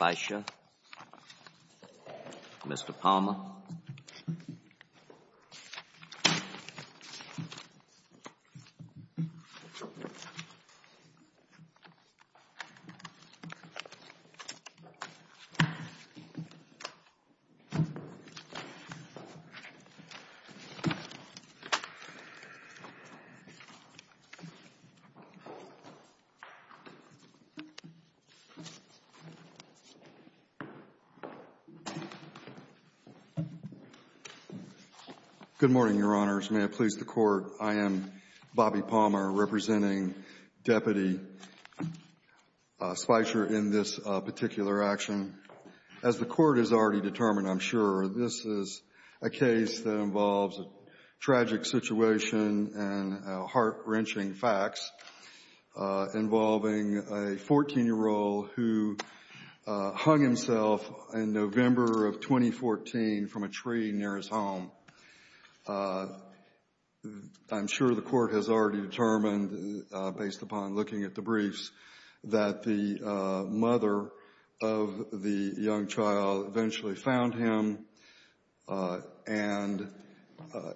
Mr. Palmer Good morning, Your Honors. May it please the Court, I am Bobby Palmer, representing Deputy Spicher in this particular action. As the Court has already determined, I'm sure, this is a case that involves a tragic situation and heart-wrenching facts involving a 14-year-old who hung himself in November of 2014 from a tree near his home. I'm sure the Court has already determined, based upon looking at the briefs, that the mother of the young child eventually found him, and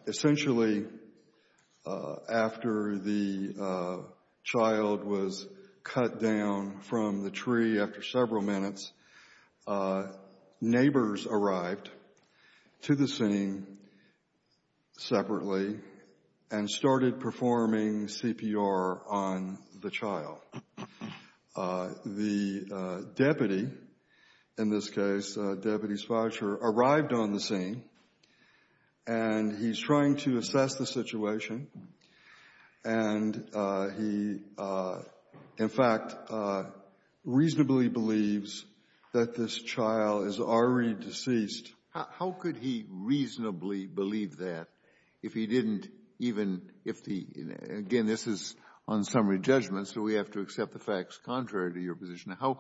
essentially, after the child was cut down from the tree after several minutes, neighbors arrived to the scene separately and started performing CPR on the child. The deputy, in this case Deputy Spicher, arrived on the scene, and he's trying to assess the situation, and he, in fact, reasonably believes that this child is already deceased. Kennedy How could he reasonably believe that if he didn't even – if the – again, this is on summary judgment, so we have to accept the facts contrary to your position. How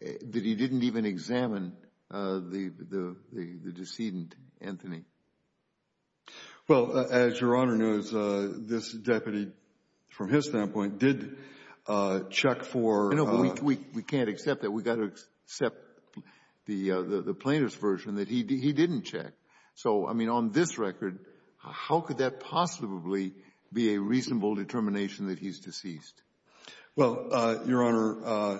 did he didn't even examine the decedent, Anthony? Spicher Well, as Your Honor knows, this deputy, from his standpoint, did check for Kennedy I know, but we can't accept that. We've got to accept the plaintiff's version that he didn't check. So, I mean, on this record, how could that possibly be a reasonable determination that he's deceased? Kennedy Well, Your Honor,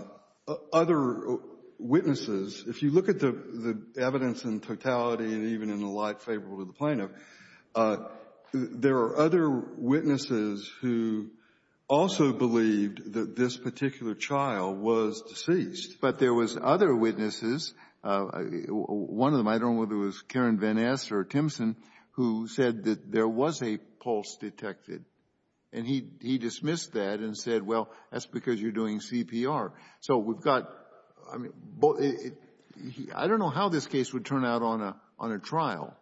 other witnesses, if you look at the evidence in totality and even in the light favorable to the plaintiff, there are other witnesses who also believed that this particular child was deceased. Breyer But there was other witnesses, one of them, I don't know whether it was Karen Van Ness or Timpson, who said that there was a pulse detected, and he dismissed that and said, well, that's because you're doing CPR. So we've got – I don't know how this case would turn out on a trial,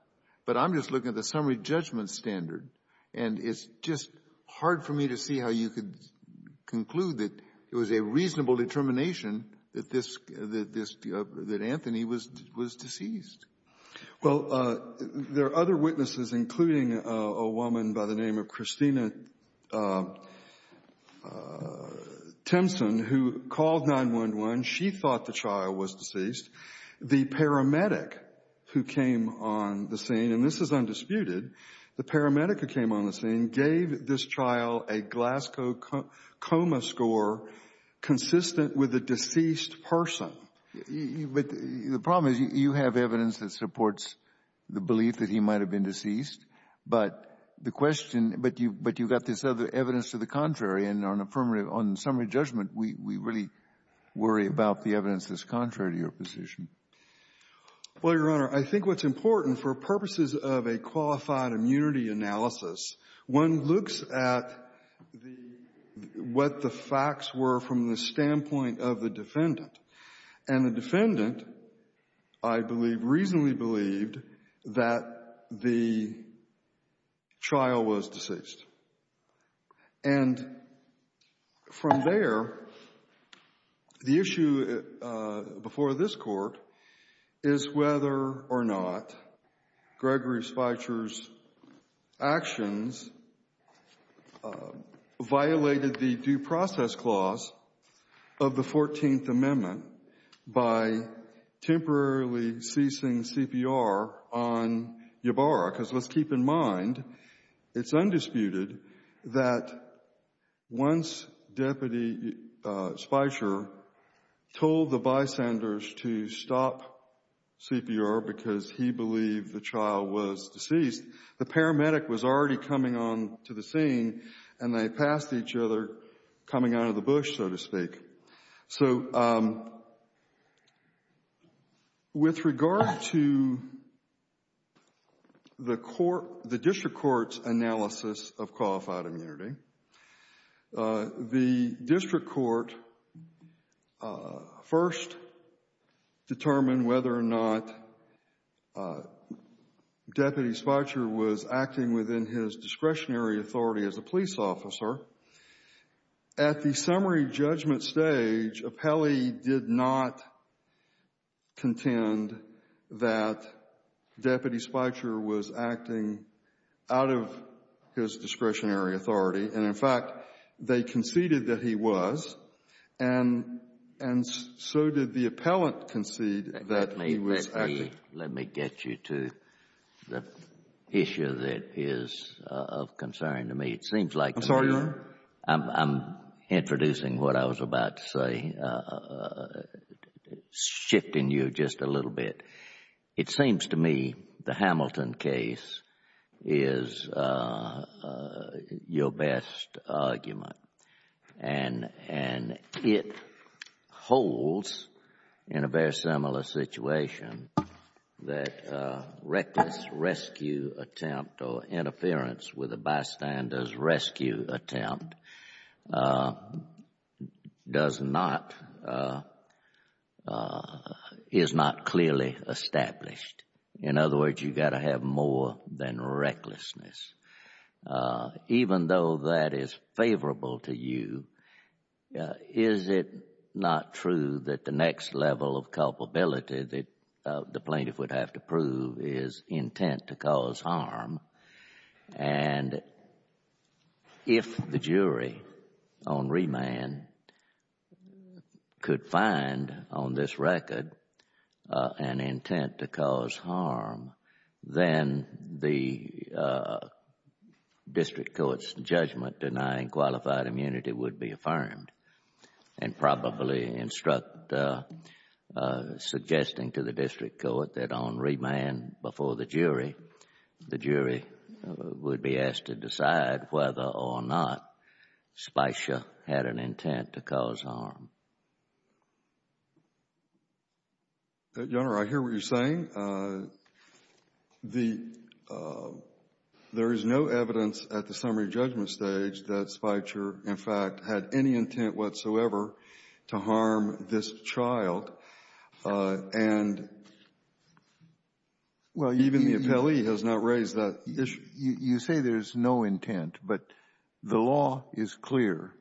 but I'm just looking at the summary judgment standard, and it's just hard for me to see how you could conclude that it was a reasonable determination that this – that Anthony was deceased. Kennedy Well, there are other witnesses, including a woman by the name of Christina Timpson, who called 911. She thought the child was deceased. The paramedic who came on the scene, and this is undisputed, the paramedic who came on the scene gave this trial a Glasgow coma score consistent with a deceased person. Breyer But the problem is you have evidence that supports the belief that he might have been deceased, but the question – but you've got this other evidence to the contrary, and on a summary judgment, we really worry about the evidence that's contrary to your position. Kennedy Well, Your Honor, I think what's important for purposes of a qualified immunity analysis, one looks at the – what the facts were from the standpoint of the defendant, and the defendant, I believe, reasonably believed that the trial was deceased. And from there, the issue before this Court is whether or not Gregory Speicher's actions violated the due process clause of the 14th Amendment by temporarily ceasing CPR on Ybarra. Because let's keep in mind, it's undisputed that once Deputy Speicher told the bystanders to stop CPR because he believed the trial was deceased, the paramedic was already coming on to the scene, and they passed each other coming out of the bush, so to speak. So with regard to the court – the district court's analysis of qualified immunity, the district court first determined whether or not Deputy Speicher was acting within his discretionary authority as a police officer. At the summary judgment stage, Appelli did not contend that Deputy Speicher was acting out of his discretionary authority. And, in fact, they conceded that he was, and so did the appellant concede that he was acting. Let me get you to the issue that is of concern to me. It seems like to me— I'm sorry, Your Honor? I'm introducing what I was about to say, shifting you just a little bit. It seems to me the Hamilton case is your best argument, and it holds in a very similar situation that reckless rescue attempt or interference with a bystander's rescue attempt does not, is not clearly established. In other words, you've got to have more than recklessness. Even though that is favorable to you, is it not true that the next level of culpability that the plaintiff would have to prove is intent to cause harm? And if the jury on remand could find on this record an intent to cause harm, then the district court's judgment denying qualified immunity would be affirmed and probably instruct suggesting to the district court that on remand before the jury, the jury would be asked to decide whether or not Speicher had an intent to cause harm. Your Honor, I hear what you're saying. The — there is no evidence at the summary judgment stage that Speicher, in fact, had any intent whatsoever to harm this child. And even the appellee has not raised that issue. You say there's no intent, but the law is clear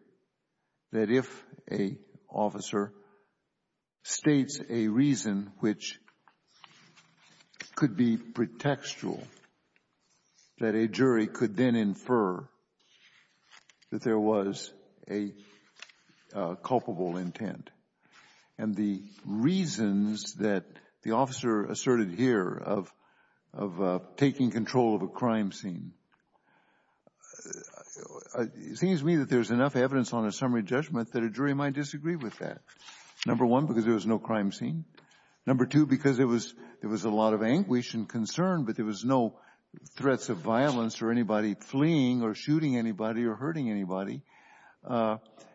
that if an officer states a reason which could be pretextual, that a jury could then infer that there was a culpable intent. And the reasons that the officer asserted here of taking control of a crime scene, it seems to me that there's enough evidence on a summary judgment that a jury might disagree with that. Number one, because there was no crime scene. Number two, because there was a lot of anguish and concern, but there was no threats of violence or anybody fleeing or shooting anybody or hurting anybody.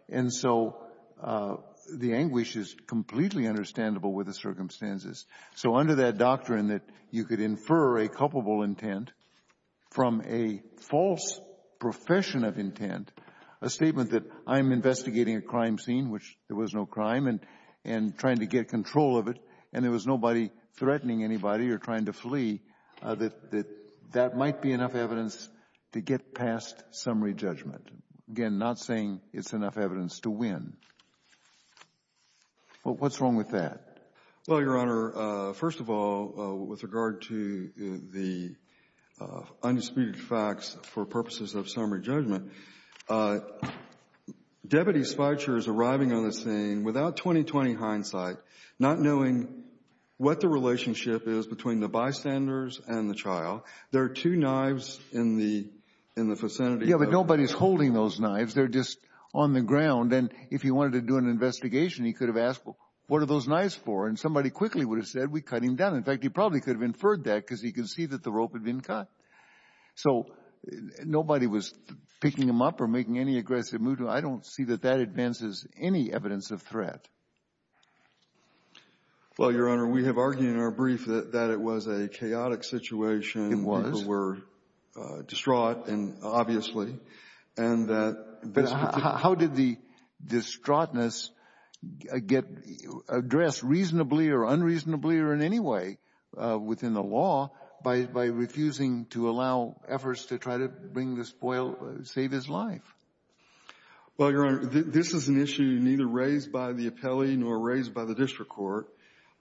And so the anguish is completely understandable with the circumstances. So under that doctrine that you could infer a culpable intent from a false profession of intent, a statement that I'm investigating a crime scene, which there was no crime, and trying to get control of it, and there was nobody threatening anybody or trying to flee, that that might be enough evidence to get past summary judgment, again, not saying it's enough evidence to win. What's wrong with that? Well, Your Honor, first of all, with regard to the undisputed facts for purposes of summary judgment, Deputy Speicher is arriving on the scene without 20-20 hindsight, not knowing what the relationship is between the bystanders and the trial. There are two knives in the vicinity. Yeah, but nobody's holding those knives. They're just on the ground. And if he wanted to do an investigation, he could have asked, well, what are those knives for? And somebody quickly would have said, we cut him down. In fact, he probably could have inferred that because he could see that the rope had been cut. So nobody was picking him up or making any aggressive move. I don't see that that advances any evidence of threat. Well, Your Honor, we have argued in our brief that it was a chaotic situation. It was. People were distraught, obviously. But how did the distraughtness get addressed reasonably or unreasonably or in any way within the law by refusing to allow efforts to try to bring the spoil, save his life? Well, Your Honor, this is an issue neither raised by the appellee nor raised by the district court.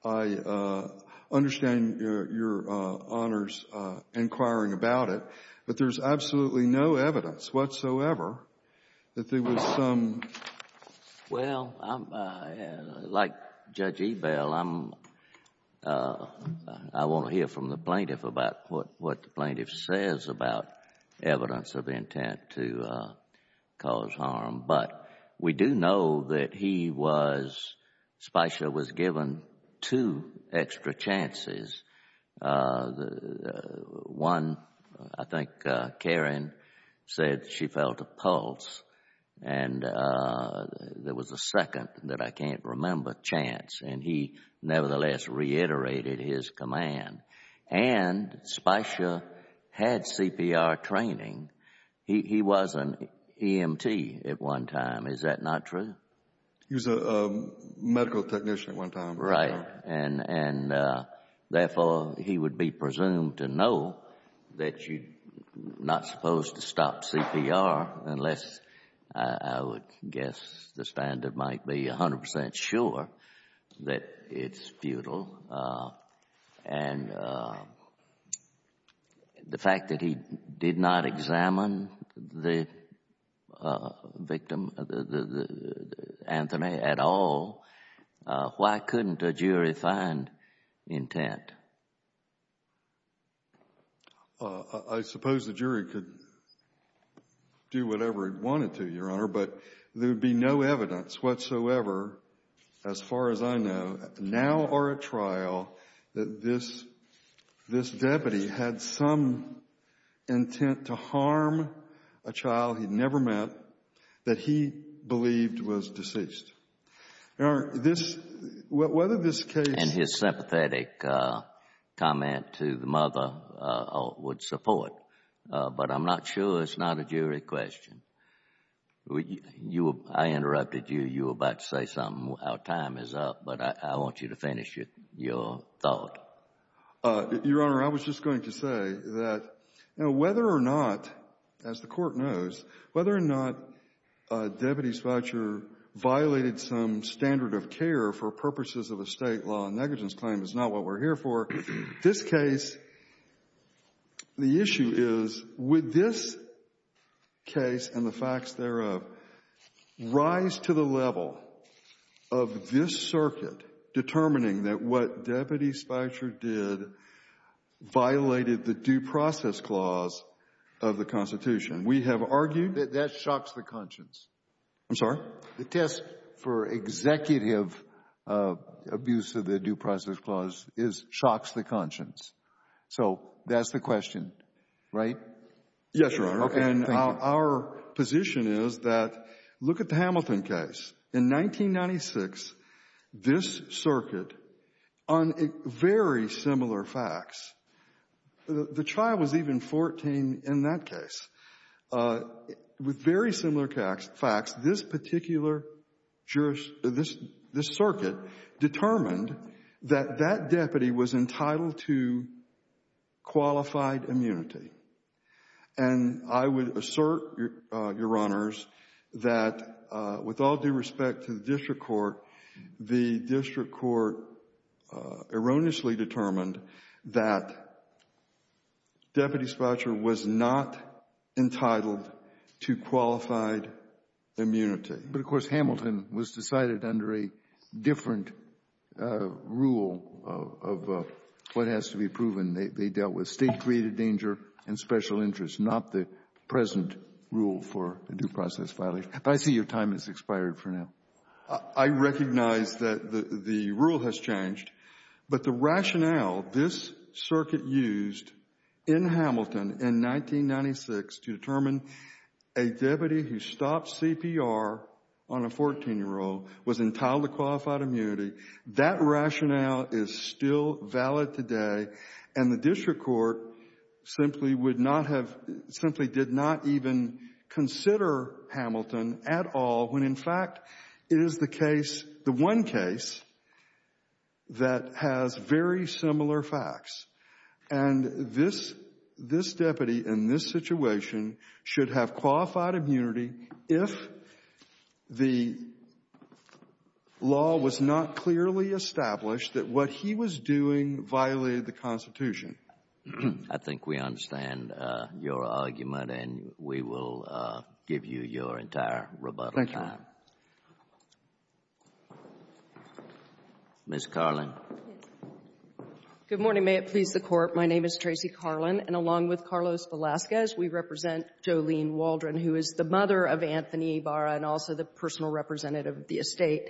I understand Your Honor's inquiring about it, but there's absolutely no evidence whatsoever that there was some. Well, like Judge Ebell, I want to hear from the plaintiff about what the plaintiff says about evidence of intent to cause harm. But we do know that he was, Speicher was given two extra chances. One, I think Karen said she felt a pulse, and there was a second that I can't remember chance, and he nevertheless reiterated his command. And Speicher had CPR training. He was an EMT at one time. Is that not true? He was a medical technician at one time. Right. And therefore, he would be presumed to know that you're not supposed to stop CPR unless I would guess the standard might be 100 percent sure that it's futile. And the fact that he did not examine the victim, Anthony, at all, why couldn't a jury find intent? I suppose the jury could do whatever it wanted to, Your Honor, but there would be no evidence whatsoever, as far as I know, now or at trial, that this deputy had some intent to harm a child he'd never met that he believed was deceased. Your Honor, this — whether this case — And his sympathetic comment to the mother would support, but I'm not sure. It's not a jury question. I interrupted you. You were about to say something. Our time is up, but I want you to finish your thought. Your Honor, I was just going to say that, you know, whether or not, as the Court knows, whether or not deputies voucher violated some standard of care for purposes of a State law negligence claim is not what we're here for. This case, the issue is, would this case and the facts thereof rise to the level of this circuit determining that what Deputy Speicher did violated the due process clause of the Constitution? We have argued — That shocks the conscience. I'm sorry? The test for executive abuse of the due process clause is shocks the conscience. So that's the question, right? Yes, Your Honor. Okay. Thank you. And our position is that look at the Hamilton case. In 1996, this circuit, on very similar facts — the child was even 14 in that case — with very similar facts, this particular circuit determined that that deputy was entitled to qualified immunity. And I would assert, Your Honors, that with all due respect to the District Court, the District Court erroneously determined that Deputy Speicher was not entitled to qualified immunity. But, of course, Hamilton was decided under a different rule of what has to be proven. They dealt with State-created danger and special interests, not the present rule for a due process violation. But I see your time has expired for now. I recognize that the rule has changed. But the rationale this circuit used in Hamilton in 1996 to determine a deputy who stopped CPR on a 14-year-old was entitled to qualified immunity, that rationale is still valid today. And the District Court simply would not have — simply did not even consider Hamilton at all when, in fact, it is the case — the one case that has very similar facts. And this — this deputy in this situation should have qualified immunity if the law was not clearly established that what he was doing violated the Constitution. I think we understand your argument, and we will give you your entire rebuttal time. Thank you. Ms. Carlin. Good morning. May it please the Court. My name is Tracy Carlin. And along with Carlos Velazquez, we represent Jolene Waldron, who is the mother of Anthony Ibarra and also the personal representative of the estate.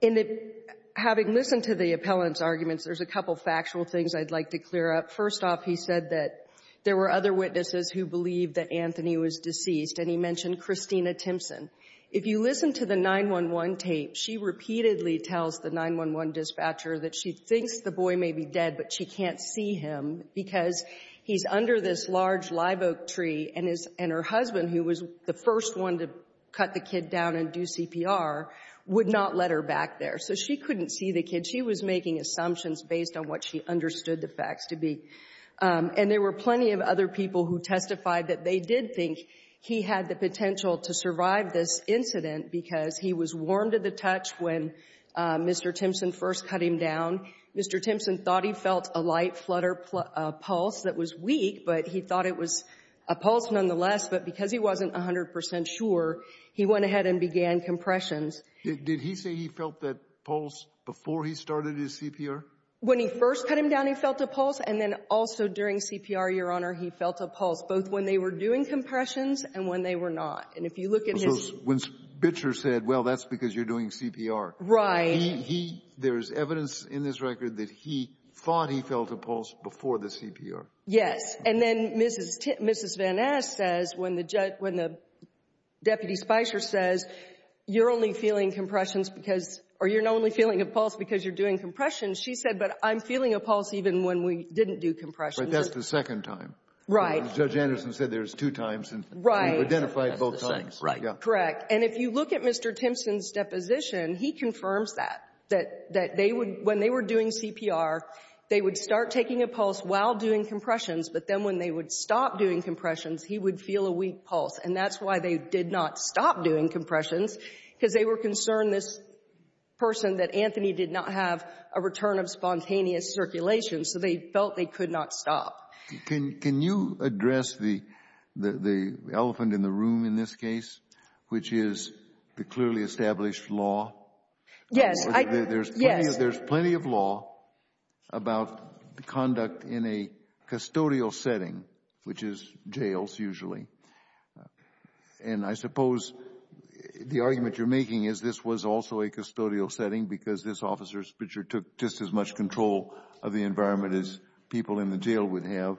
In the — having listened to the appellant's arguments, there's a couple factual things I'd like to clear up. First off, he said that there were other witnesses who believed that Anthony was deceased. And he mentioned Christina Timpson. If you listen to the 911 tape, she repeatedly tells the 911 dispatcher that she thinks the boy may be dead, but she can't see him because he's under this large live oak tree and his — and her husband, who was the first one to cut the kid down and do CPR, would not let her back there. So she couldn't see the kid. She was making assumptions based on what she understood the facts to be. And there were plenty of other people who testified that they did think he had the potential to survive this incident because he was warm to the touch when Mr. Timpson first cut him down. Mr. Timpson thought he felt a light flutter pulse that was weak, but he thought it was a pulse nonetheless. But because he wasn't 100 percent sure, he went ahead and began compressions. Did he say he felt that pulse before he started his CPR? When he first cut him down, he felt a pulse. And then also during CPR, Your Honor, he felt a pulse, both when they were doing compressions and when they were not. And if you look at his — So when Spitzer said, well, that's because you're doing CPR. Right. He — there's evidence in this record that he thought he felt a pulse before the CPR. Yes. And then Mrs. Van Ness says, when the deputy Spitzer says, you're only feeling compressions because — or you're only feeling a pulse because you're doing compressions, she said, but I'm feeling a pulse even when we didn't do compressions. But that's the second time. Right. Judge Anderson said there's two times. Right. And we've identified both times. Right. Correct. And if you look at Mr. Timpson's deposition, he confirms that, that they would when they were doing CPR, they would start taking a pulse while doing compressions, but then when they would stop doing compressions, he would feel a weak pulse. And that's why they did not stop doing compressions, because they were concerned, this person, that Anthony did not have a return of spontaneous circulation. So they felt they could not stop. Can you address the elephant in the room in this case, which is the clearly established law? Yes. There's plenty of law about conduct in a custodial setting, which is jails usually. And I suppose the argument you're making is this was also a custodial setting because this officer's picture took just as much control of the environment as people in the jail would have.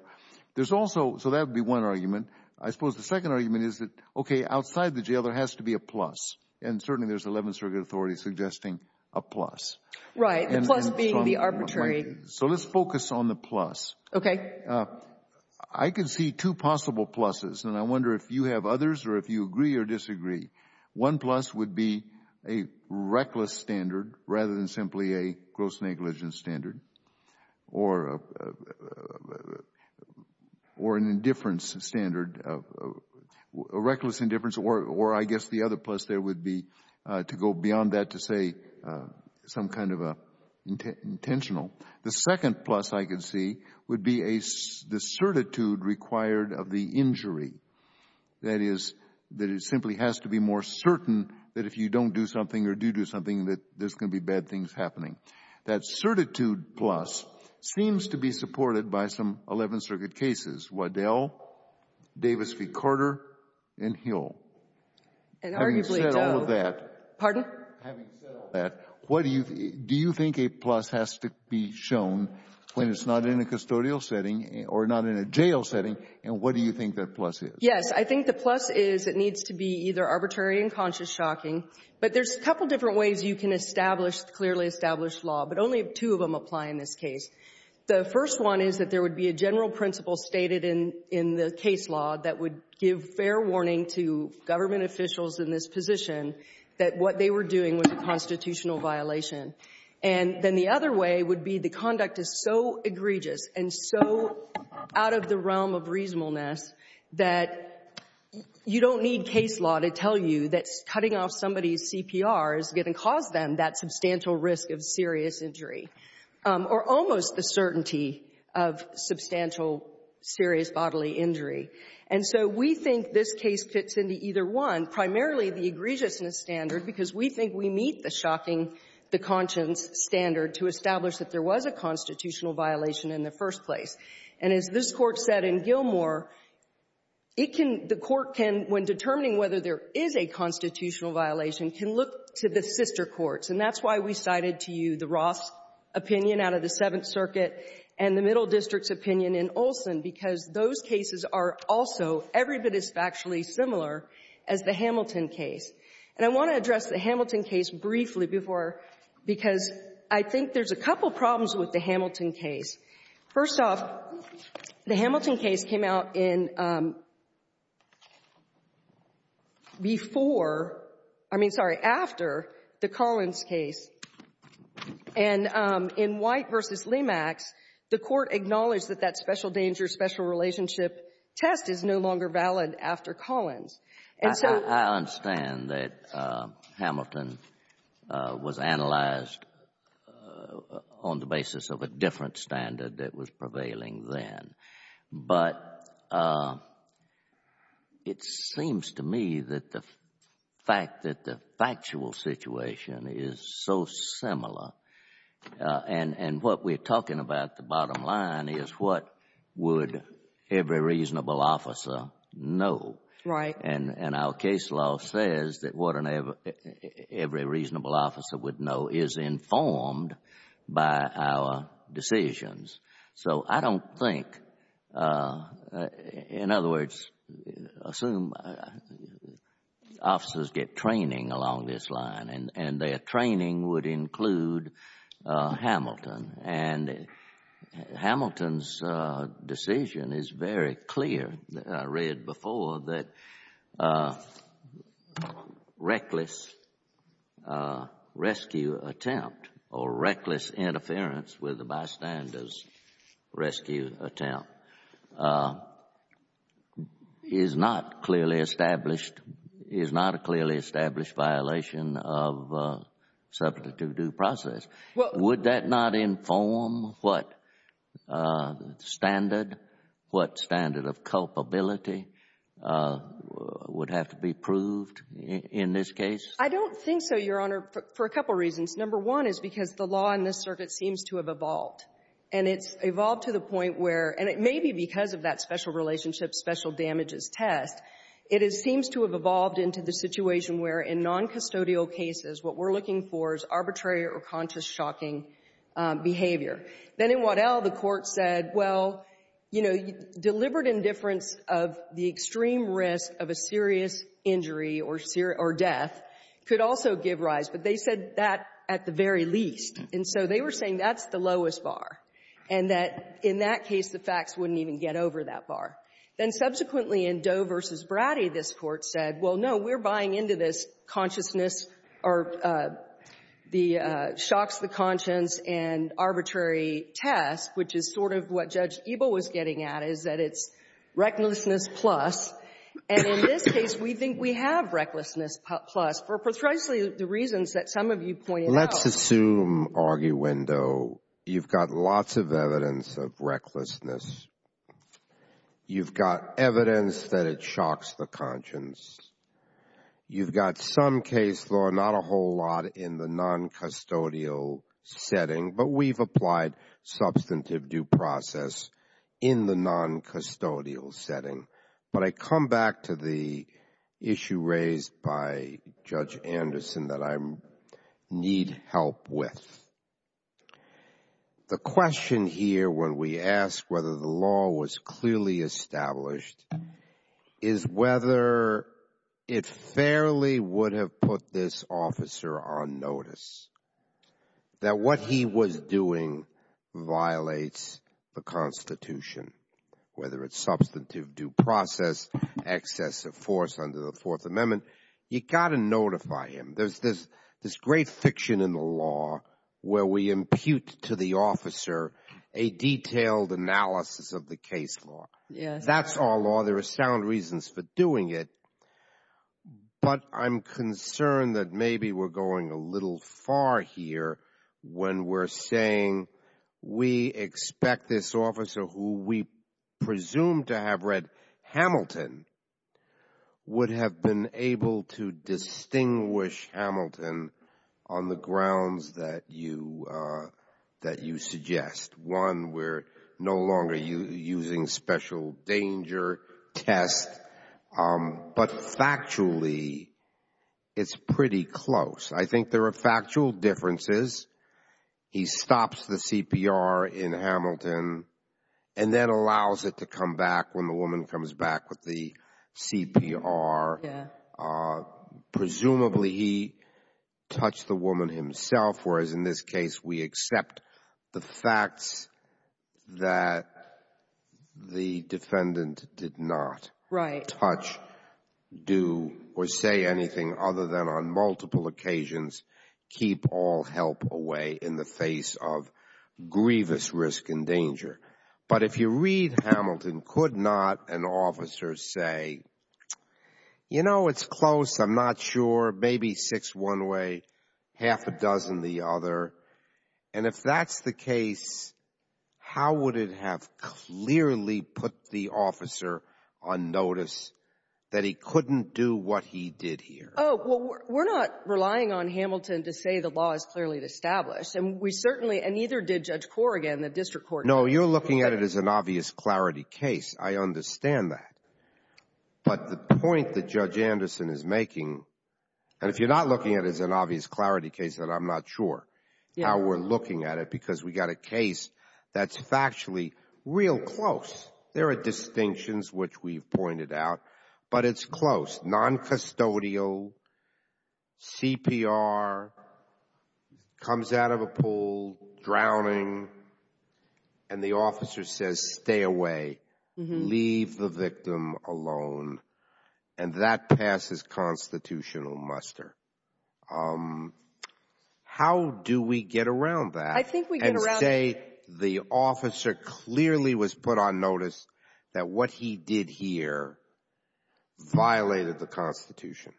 So that would be one argument. I suppose the second argument is that, okay, outside the jail there has to be a plus, and certainly there's 11 circuit authorities suggesting a plus. Right, the plus being the arbitrary. So let's focus on the plus. Okay. I can see two possible pluses, and I wonder if you have others or if you agree or disagree. One plus would be a reckless standard rather than simply a gross negligence standard or an indifference standard, a reckless indifference, or I guess the other plus there would be to go beyond that to say some kind of intentional. The second plus I can see would be the certitude required of the injury, that is that it simply has to be more certain that if you don't do something or do do something that there's going to be bad things happening. That certitude plus seems to be supported by some 11 circuit cases, Waddell, Davis v. Carter, and Hill. And arguably it does. Having said all of that. Pardon? Having said all that, do you think a plus has to be shown when it's not in a custodial setting or not in a jail setting, and what do you think that plus is? Yes. I think the plus is it needs to be either arbitrary and conscious shocking. But there's a couple different ways you can establish clearly established law, but only two of them apply in this case. The first one is that there would be a general principle stated in the case law that would give fair warning to government officials in this position that what they were doing was a constitutional violation. And then the other way would be the conduct is so egregious and so out of the realm of reasonableness that you don't need case law to tell you that cutting off somebody's CPR is going to cause them that substantial risk of serious injury. Or almost the certainty of substantial serious bodily injury. And so we think this case fits into either one, primarily the egregiousness standard, because we think we meet the shocking, the conscience standard to establish that there was a constitutional violation in the first place. And as this Court said in Gilmore, it can — the Court can, when determining whether there is a constitutional violation, can look to the sister courts. And that's why we cited to you the Roth's opinion out of the Seventh Circuit and the Middle District's opinion in Olson, because those cases are also every bit as factually similar as the Hamilton case. And I want to address the Hamilton case briefly before — because I think there's a couple problems with the Hamilton case. First off, the Hamilton case came out in — before — I mean, sorry, after the Collins case. And in White v. Lemax, the Court acknowledged that that special danger, special relationship test is no longer valid after Collins. And so — I understand that Hamilton was analyzed on the basis of a different standard that was prevailing then. But it seems to me that the fact that the factual situation is so similar, and what we're talking about at the bottom line is what would every reasonable officer know. Right. And our case law says that what every reasonable officer would know is informed by our decisions. So I don't think — in other words, assume officers get training along this line, and their training would include Hamilton. And Hamilton's decision is very clear. I read before that reckless rescue attempt or reckless interference with the bystander's rescue attempt is not clearly established violation of substantive due process. Well — Would that not inform what standard, what standard of culpability would have to be proved in this case? I don't think so, Your Honor, for a couple reasons. Number one is because the law in this circuit seems to have evolved. And it's evolved to the point where — and it may be because of that special relationships, special damages test — it seems to have evolved into the situation where in noncustodial cases, what we're looking for is arbitrary or conscious shocking behavior. Then in Waddell, the Court said, well, you know, deliberate indifference of the extreme risk of a serious injury or death could also give rise. But they said that at the very least. And so they were saying that's the lowest bar, and that in that case, the facts wouldn't even get over that bar. Then subsequently, in Doe v. Bratty, this Court said, well, no, we're buying into this consciousness or the — shocks the conscience and arbitrary test, which is sort of what Judge Ebel was getting at, is that it's recklessness plus. And in this case, we think we have recklessness plus for precisely the reasons that some of you pointed out. Let's assume, arguendo, you've got lots of evidence of recklessness. You've got evidence that it shocks the conscience. You've got some case law, not a whole lot in the noncustodial setting, but we've applied substantive due process in the noncustodial setting. But I come back to the issue raised by Judge Anderson that I need help with. The question here when we ask whether the law was clearly established is whether it fairly would have put this officer on notice, that what he was doing violates the Constitution, whether it's substantive due process, excess of force under the Fourth Amendment. You've got to notify him. There's this great fiction in the law where we impute to the officer a detailed analysis of the case law. That's our law. There are sound reasons for doing it. But I'm concerned that maybe we're going a little far here when we're saying we expect this officer who we presume to have read Hamilton would have been able to distinguish Hamilton on the grounds that you suggest. One, we're no longer using special danger test. But factually, it's pretty close. I think there are factual differences. He stops the CPR in Hamilton and then allows it to come back when the woman comes back with the CPR. Presumably, he touched the woman himself, whereas in this case, we accept the facts that the defendant did not touch, do, or say anything other than on multiple occasions keep all help away in the face of grievous risk and danger. But if you read Hamilton, could not an officer say, You know, it's close. I'm not sure. Maybe six one way, half a dozen the other. And if that's the case, how would it have clearly put the officer on notice that he couldn't do what he did here? Oh, well, we're not relying on Hamilton to say the law is clearly established. And we certainly — and neither did Judge Korrigan, the district court judge. No, you're looking at it as an obvious clarity case. I understand that. But the point that Judge Anderson is making, and if you're not looking at it as an obvious clarity case, then I'm not sure how we're looking at it because we got a case that's factually real close. There are distinctions, which we've pointed out, but it's close. Noncustodial, CPR, comes out of a pool, drowning, and the officer says, Stay away. Leave the victim alone. And that passes constitutional muster. How do we get around that and say the officer clearly was put on notice that what he did here violated the Constitution?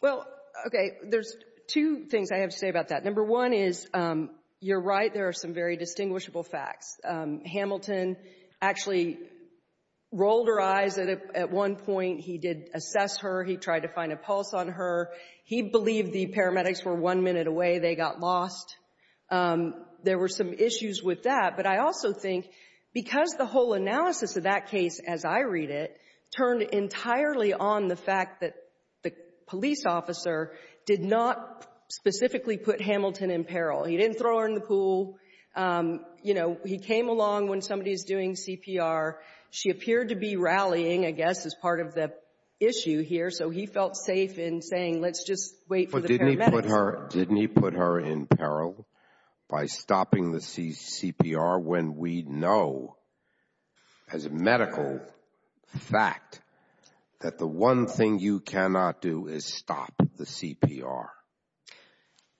Well, okay, there's two things I have to say about that. Number one is, you're right, there are some very distinguishable facts. Hamilton actually rolled her eyes at one point. He did assess her. He tried to find a pulse on her. He believed the paramedics were one minute away. They got lost. There were some issues with that. But I also think because the whole analysis of that case, as I read it, turned entirely on the fact that the police officer did not specifically put Hamilton in peril. He didn't throw her in the pool. You know, he came along when somebody was doing CPR. She appeared to be rallying, I guess, as part of the issue here, so he felt safe in saying, Let's just wait for the paramedics. Didn't he put her in peril by stopping the CPR when we know as a medical fact that the one thing you cannot do is stop the CPR?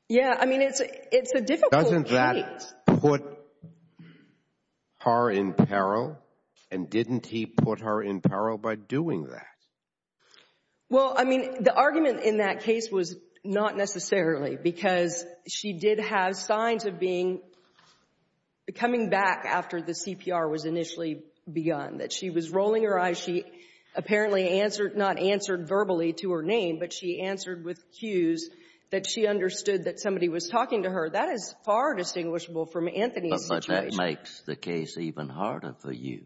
Yeah, I mean, it's a difficult case. Doesn't that put her in peril, and didn't he put her in peril by doing that? Well, I mean, the argument in that case was not necessarily because she did have signs of being coming back after the CPR was initially begun, that she was rolling her eyes. She apparently answered, not answered verbally to her name, but she answered with cues that she understood that somebody was talking to her. That is far distinguishable from Anthony's situation. But that makes the case even harder for you.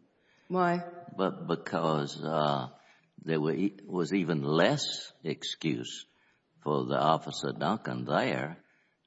Why? Because there was even less excuse for the Officer Duncan there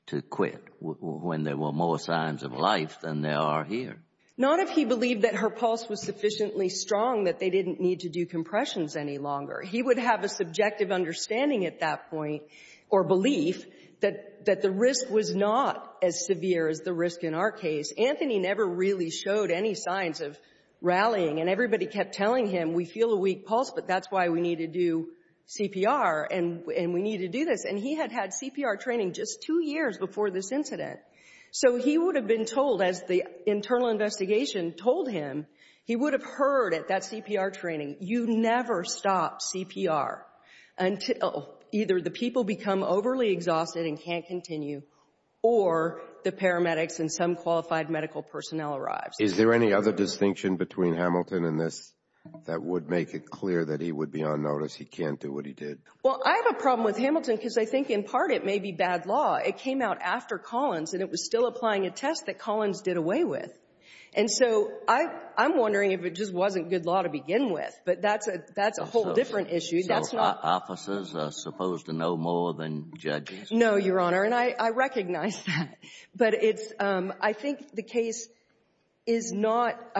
to quit when there were more signs of life than there are here. Not if he believed that her pulse was sufficiently strong that they didn't need to do compressions any longer. He would have a subjective understanding at that point, or belief, that the risk was not as severe as the risk in our case. Anthony never really showed any signs of rallying, and everybody kept telling him, we feel a weak pulse, but that's why we need to do CPR and we need to do this. And he had had CPR training just two years before this incident. So he would have been told, as the internal investigation told him, he would have heard at that CPR training, you never stop CPR until either the people become overly exhausted and can't continue or the paramedics and some qualified medical personnel arrives. Is there any other distinction between Hamilton and this that would make it clear that he would be on notice, he can't do what he did? Well, I have a problem with Hamilton because I think in part it may be bad law. It came out after Collins, and it was still applying a test that Collins did away with. And so I'm wondering if it just wasn't good law to begin with. But that's a whole different issue. So officers are supposed to know more than judges? No, Your Honor, and I recognize that. But it's – I think the case is not –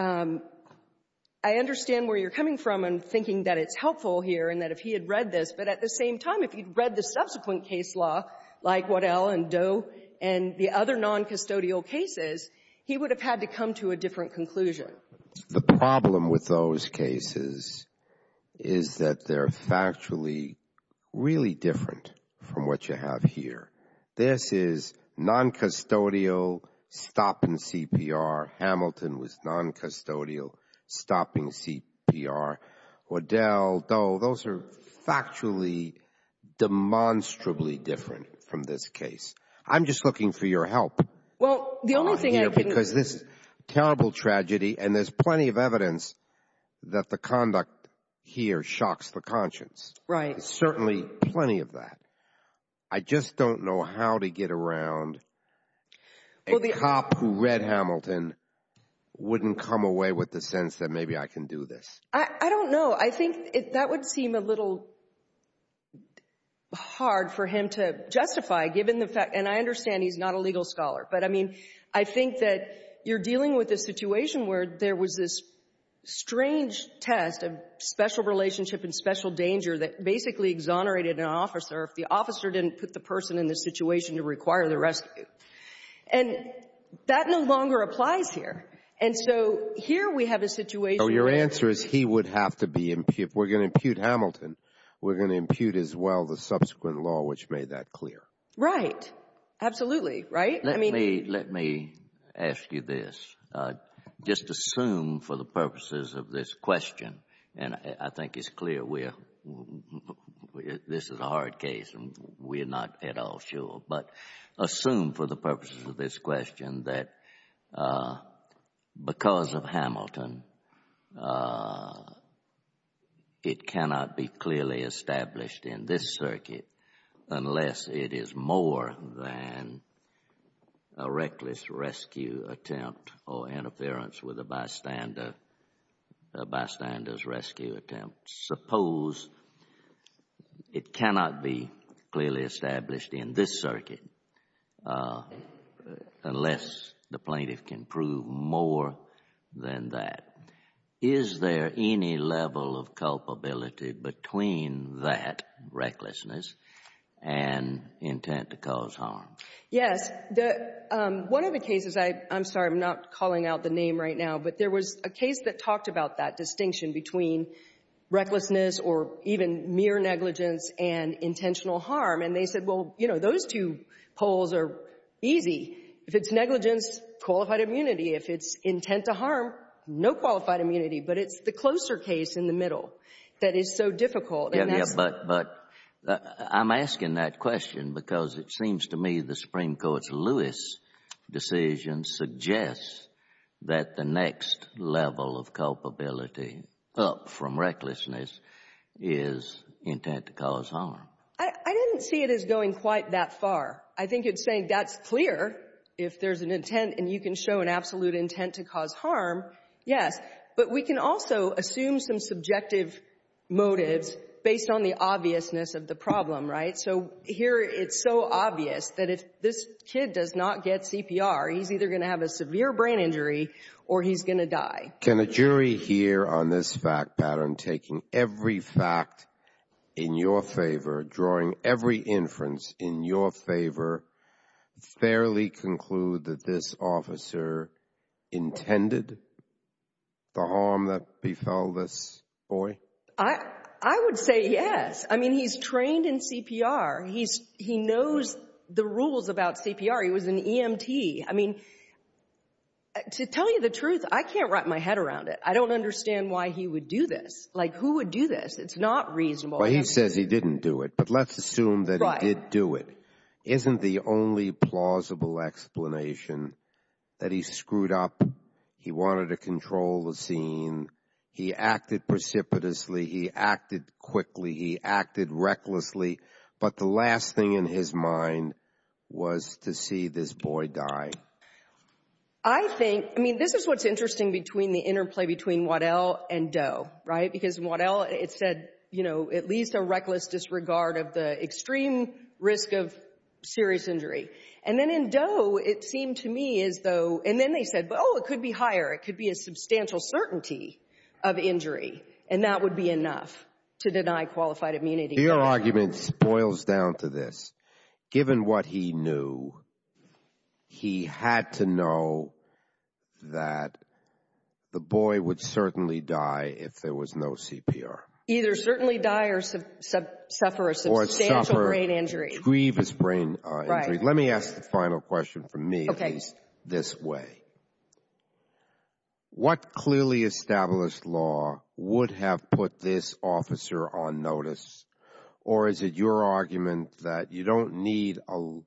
I understand where you're coming from in thinking that it's helpful here and that if he had read this, but at the same time, if he'd read the subsequent case law like Waddell and Doe and the other noncustodial cases, he would have had to come to a different conclusion. The problem with those cases is that they're factually really different from what you have here. This is noncustodial stopping CPR. Hamilton was noncustodial stopping CPR. Waddell, Doe, those are factually demonstrably different from this case. I'm just looking for your help here because this is a terrible tragedy, and there's plenty of evidence that the conduct here shocks the conscience. Right. There's certainly plenty of that. I just don't know how to get around a cop who read Hamilton wouldn't come away with the sense that maybe I can do this. I don't know. I think that would seem a little hard for him to justify, given the fact – and I understand he's not a legal scholar, but, I mean, I think that you're dealing with a situation where there was this strange test of special relationship and special danger that basically exonerated an officer if the officer didn't put the person in the situation to require the rescue. And that no longer applies here. And so here we have a situation where – So your answer is he would have to be – if we're going to impute Hamilton, we're going to impute as well the subsequent law which made that clear. Right. Absolutely. Right? Let me ask you this. Just assume for the purposes of this question, and I think it's clear this is a hard case and we're not at all sure, but assume for the purposes of this question that because of Hamilton, it cannot be clearly established in this circuit unless it is more than a reckless rescue attempt or interference with a bystander's rescue attempt. Suppose it cannot be clearly established in this circuit unless the plaintiff can prove more than that. Is there any level of culpability between that recklessness and intent to cause harm? Yes. One of the cases – I'm sorry, I'm not calling out the name right now, but there was a case that talked about that distinction between recklessness or even mere negligence and intentional harm. And they said, well, you know, those two poles are easy. If it's negligence, qualified immunity. If it's intent to harm, no qualified immunity. But it's the closer case in the middle that is so difficult. But I'm asking that question because it seems to me the Supreme Court's Lewis decision suggests that the next level of culpability up from recklessness is intent to cause harm. I didn't see it as going quite that far. I think it's saying that's clear if there's an intent and you can show an absolute intent to cause harm, yes. But we can also assume some subjective motives based on the obviousness of the problem, right? So here it's so obvious that if this kid does not get CPR, he's either going to have a severe brain injury or he's going to die. Can a jury here on this fact pattern taking every fact in your favor, drawing every inference in your favor, fairly conclude that this officer intended the harm that befell this boy? I would say yes. I mean, he's trained in CPR. He knows the rules about CPR. He was an EMT. I mean, to tell you the truth, I can't wrap my head around it. I don't understand why he would do this. Like, who would do this? It's not reasonable. Well, he says he didn't do it, but let's assume that he did do it. Isn't the only plausible explanation that he screwed up, he wanted to control the scene, he acted precipitously, he acted quickly, he acted recklessly, but the last thing in his mind was to see this boy die? I think, I mean, this is what's interesting between the interplay between Waddell and Doe, right? Because in Waddell it said, you know, at least a reckless disregard of the extreme risk of serious injury. And then in Doe it seemed to me as though, and then they said, oh, it could be higher. It could be a substantial certainty of injury, and that would be enough to deny qualified immunity. Your argument boils down to this. Given what he knew, he had to know that the boy would certainly die if there was no CPR. Either certainly die or suffer a substantial brain injury. Grieve his brain injury. Let me ask the final question from me, at least this way. What clearly established law would have put this officer on notice? Or is it your argument that you don't need a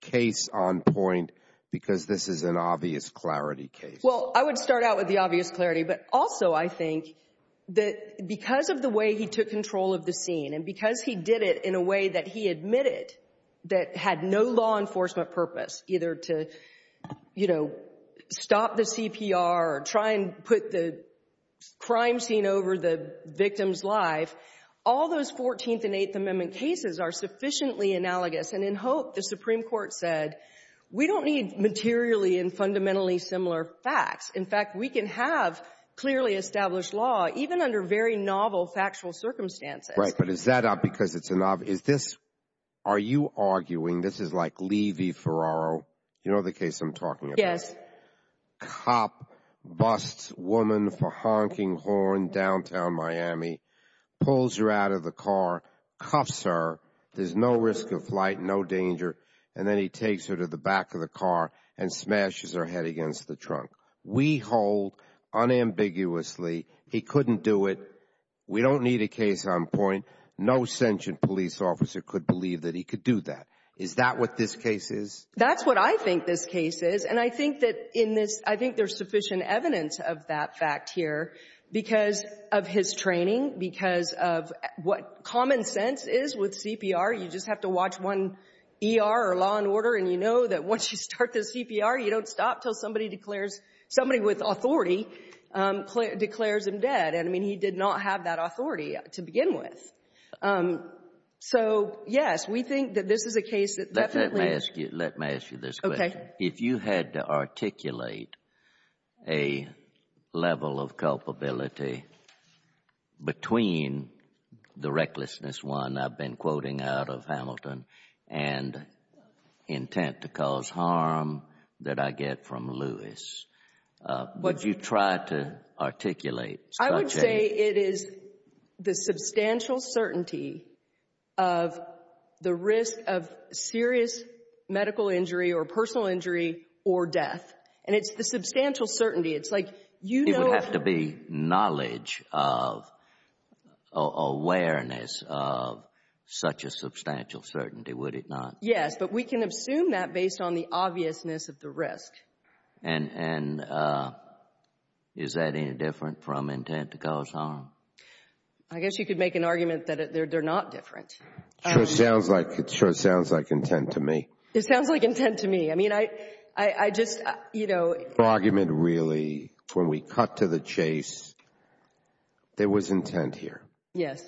case on point because this is an obvious clarity case? Well, I would start out with the obvious clarity, but also I think that because of the way he took control of the scene, and because he did it in a way that he admitted that had no law enforcement purpose, either to, you know, stop the CPR or try and put the crime scene over the victim's life, all those 14th and 8th Amendment cases are sufficiently analogous. And in Hope, the Supreme Court said we don't need materially and fundamentally similar facts. In fact, we can have clearly established law, even under very novel factual circumstances. Right, but is that up because it's a novice? Are you arguing this is like Levy-Ferraro? You know the case I'm talking about? Yes. Cop busts woman for honking horn downtown Miami, pulls her out of the car, cuffs her. There's no risk of flight, no danger. And then he takes her to the back of the car and smashes her head against the trunk. We hold unambiguously he couldn't do it. We don't need a case on point. No sentient police officer could believe that he could do that. Is that what this case is? That's what I think this case is. And I think there's sufficient evidence of that fact here because of his training, because of what common sense is with CPR. You just have to watch one ER or law and order, and you know that once you start the CPR, you don't stop until somebody with authority declares him dead. And, I mean, he did not have that authority to begin with. So, yes, we think that this is a case that definitely ---- Let me ask you this question. Okay. If you had to articulate a level of culpability between the recklessness, one I've been quoting out of Hamilton, and intent to cause harm that I get from Lewis, would you try to articulate such a level of culpability? I would say it is the substantial certainty of the risk of serious medical injury or personal injury or death. And it's the substantial certainty. It's like you know ---- It would have to be knowledge of or awareness of such a substantial certainty, would it not? Yes, but we can assume that based on the obviousness of the risk. And is that any different from intent to cause harm? I guess you could make an argument that they're not different. Sure sounds like intent to me. It sounds like intent to me. I mean, I just, you know ---- The argument really, when we cut to the chase, there was intent here. Yes.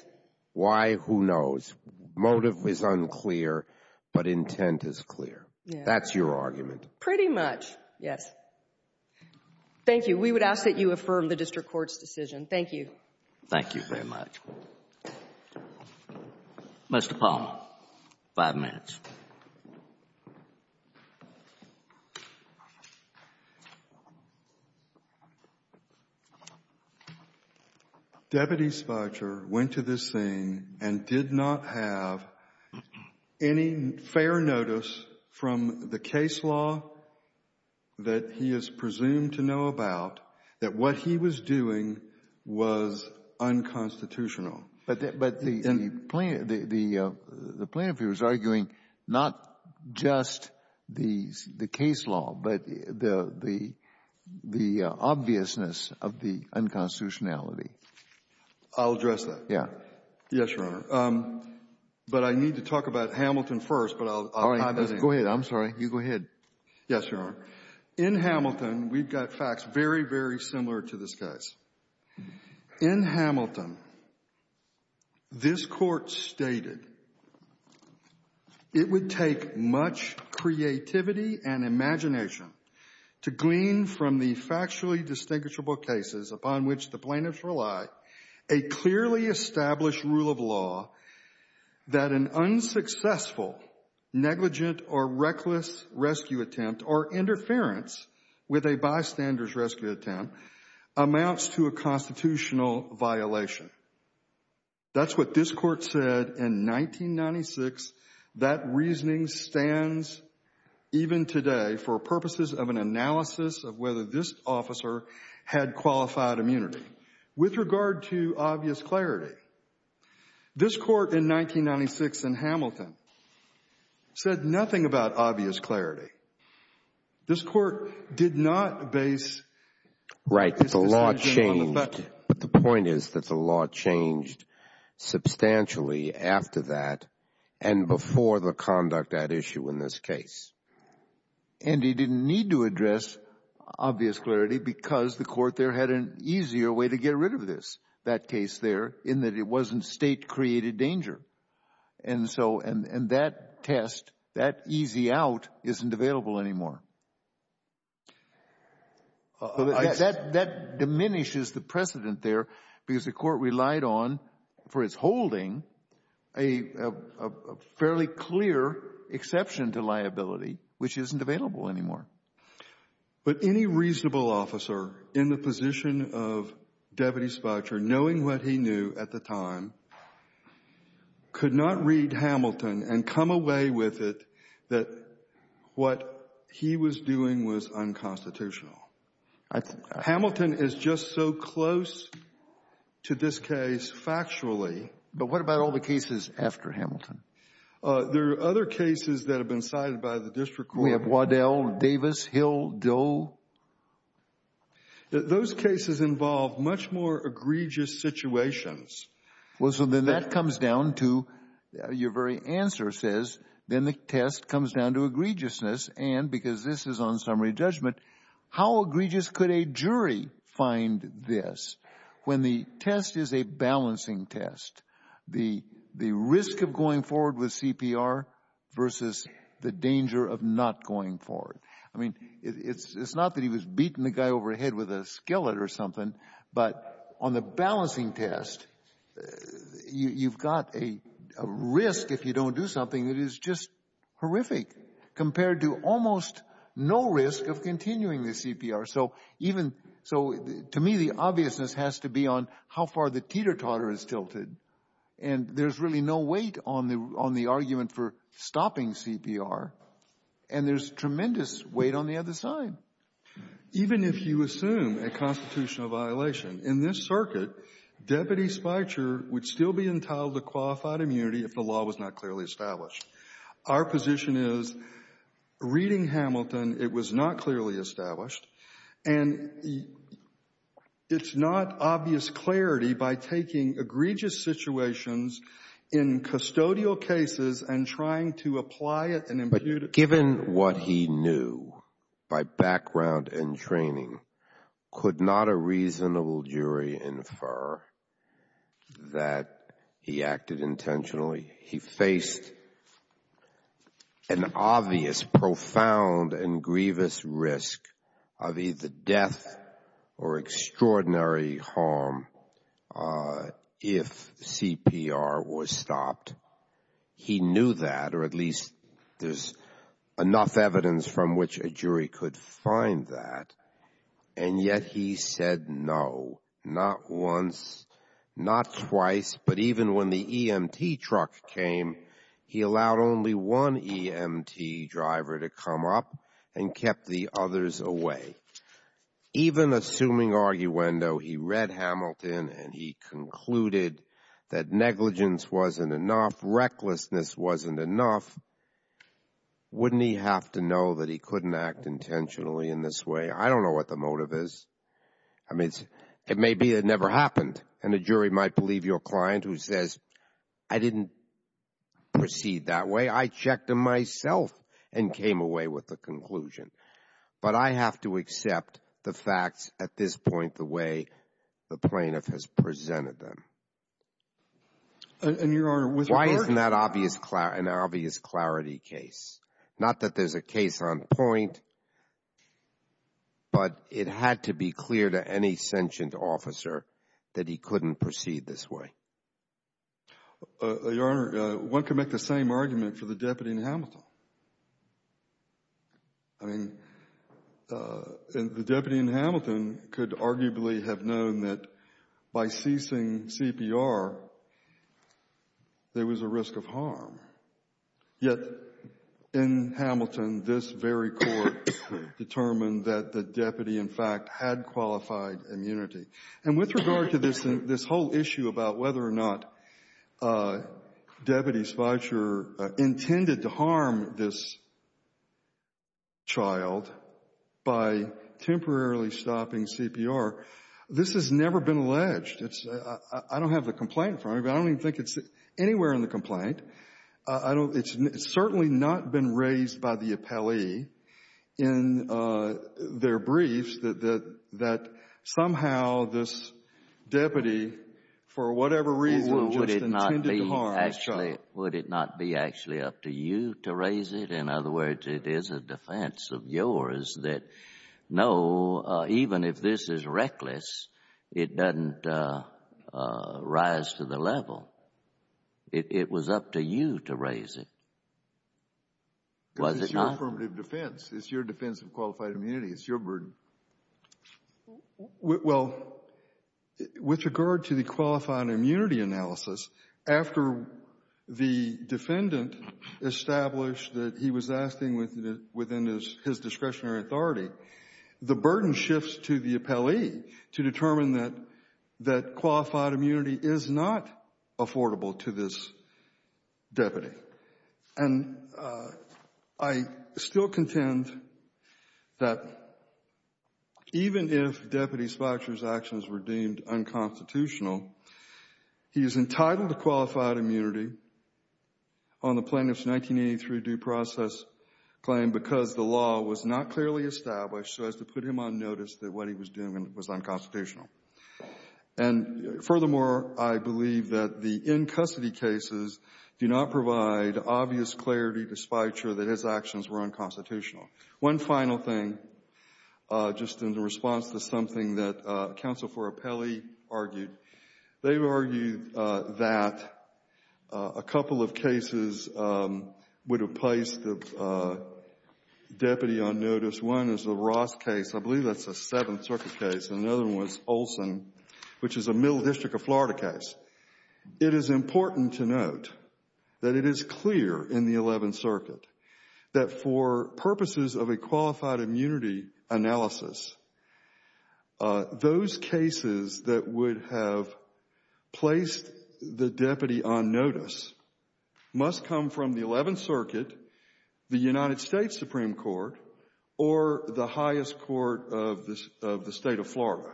Why? Who knows? Motive is unclear, but intent is clear. Yes. That's your argument. Pretty much, yes. Thank you. We would ask that you affirm the district court's decision. Thank you. Thank you very much. Mr. Palmer, five minutes. Thank you. Deputy Spudger went to this scene and did not have any fair notice from the case law that he is presumed to know about that what he was doing was unconstitutional. But the plaintiff here is arguing not just the case law, but the obviousness of the unconstitutionality. I'll address that. Yes. Yes, Your Honor. But I need to talk about Hamilton first. All right. Go ahead. I'm sorry. You go ahead. Yes, Your Honor. In Hamilton, we've got facts very, very similar to this guy's. In Hamilton, this court stated it would take much creativity and imagination to glean from the factually distinguishable cases upon which the plaintiffs rely a clearly established rule of law that an unsuccessful, negligent or reckless rescue attempt or interference with a bystander's rescue attempt amounts to a constitutional violation. That's what this court said in 1996. That reasoning stands even today for purposes of an analysis of whether this officer had qualified immunity. With regard to obvious clarity, this court in 1996 in Hamilton said nothing about obvious clarity. This court did not base its decision on the fact. Right. The law changed. But the point is that the law changed substantially after that and before the conduct at issue in this case. And he didn't need to address obvious clarity because the court there had an easier way to get rid of this, that case there, in that it wasn't State-created danger. And so in that test, that easy out isn't available anymore. That diminishes the precedent there because the court relied on, for its holding, a fairly clear exception to liability, which isn't available anymore. But any reasonable officer in the position of Deputy Spocher, knowing what he knew at the time, could not read Hamilton and come away with it that what he was doing was unconstitutional. Hamilton is just so close to this case factually. But what about all the cases after Hamilton? There are other cases that have been cited by the district court. We have Waddell, Davis, Hill, Doe. Those cases involve much more egregious situations. Well, so then that comes down to, your very answer says, then the test comes down to egregiousness. And because this is on summary judgment, how egregious could a jury find this when the test is a balancing test? The risk of going forward with CPR versus the danger of not going forward. I mean, it's not that he was beating the guy overhead with a skillet or something. But on the balancing test, you've got a risk if you don't do something that is just horrific compared to almost no risk of continuing the CPR. So to me, the obviousness has to be on how far the teeter-totter is tilted. And there's really no weight on the argument for stopping CPR. And there's tremendous weight on the other side. Even if you assume a constitutional violation, in this circuit, Deputy Speicher would still be entitled to qualified immunity if the law was not clearly established. Our position is, reading Hamilton, it was not clearly established. And it's not obvious clarity by taking egregious situations in custodial cases and trying to apply it and impute it. What he knew by background and training could not a reasonable jury infer that he acted intentionally. He faced an obvious, profound, and grievous risk of either death or extraordinary harm if CPR was stopped. He knew that, or at least there's enough evidence from which a jury could find that. And yet he said no, not once, not twice. But even when the EMT truck came, he allowed only one EMT driver to come up and kept the others away. Even assuming arguendo, he read Hamilton and he concluded that negligence wasn't enough, recklessness wasn't enough, wouldn't he have to know that he couldn't act intentionally in this way? I don't know what the motive is. I mean, it may be it never happened. And a jury might believe your client who says, I didn't proceed that way. I checked him myself and came away with the conclusion. But I have to accept the facts at this point the way the plaintiff has presented them. And, Your Honor, with merit. Why isn't that an obvious clarity case? Not that there's a case on point, but it had to be clear to any sentient officer that he couldn't proceed this way. Your Honor, one can make the same argument for the deputy in Hamilton. I mean, the deputy in Hamilton could arguably have known that by ceasing CPR, there was a risk of harm. Yet in Hamilton, this very court determined that the deputy, in fact, had qualified immunity. And with regard to this whole issue about whether or not Deputy Schweitzer intended to harm this child by temporarily stopping CPR, this has never been alleged. I don't have the complaint. I don't even think it's anywhere in the complaint. It's certainly not been raised by the appellee in their briefs that somehow this deputy, for whatever reason, just intended to harm this child. Would it not be actually up to you to raise it? In other words, it is a defense of yours that, no, even if this is reckless, it doesn't rise to the level. It was up to you to raise it. Was it not? It's your affirmative defense. It's your defense of qualified immunity. It's your burden. Well, with regard to the qualified immunity analysis, after the defendant established that he was acting within his discretionary authority, the burden shifts to the appellee to determine that qualified immunity is not affordable to this deputy. And I still contend that even if Deputy Schweitzer's actions were deemed unconstitutional, he is entitled to qualified immunity on the plaintiff's 1983 due process claim because the law was not clearly established so as to put him on notice that what he was doing was unconstitutional. And furthermore, I believe that the in-custody cases do not provide obvious clarity despite sure that his actions were unconstitutional. One final thing, just in response to something that Counsel for Appellee argued. They've argued that a couple of cases would have placed the deputy on notice. One is the Ross case. I believe that's a Seventh Circuit case. Another one was Olson, which is a Middle District of Florida case. It is important to note that it is clear in the Eleventh Circuit that for purposes of a qualified immunity analysis, those cases that would have placed the deputy on notice must come from the Eleventh Circuit, the United States Supreme Court, or the highest court of the state of Florida.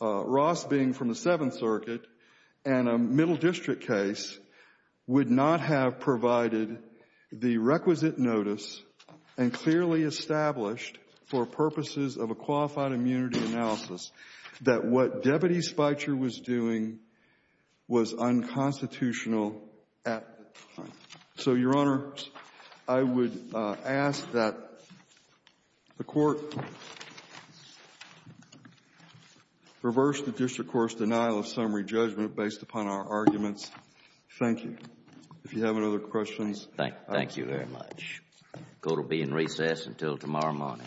Ross being from the Seventh Circuit and a Middle District case would not have provided the requisite notice and clearly established for purposes of a qualified immunity analysis that what Deputy Schweitzer was doing was unconstitutional at the time. So, Your Honor, I would ask that the court reverse the district court's denial of summary judgment based upon our arguments. Thank you. If you have any other questions. Thank you very much. The court will be in recess until tomorrow morning.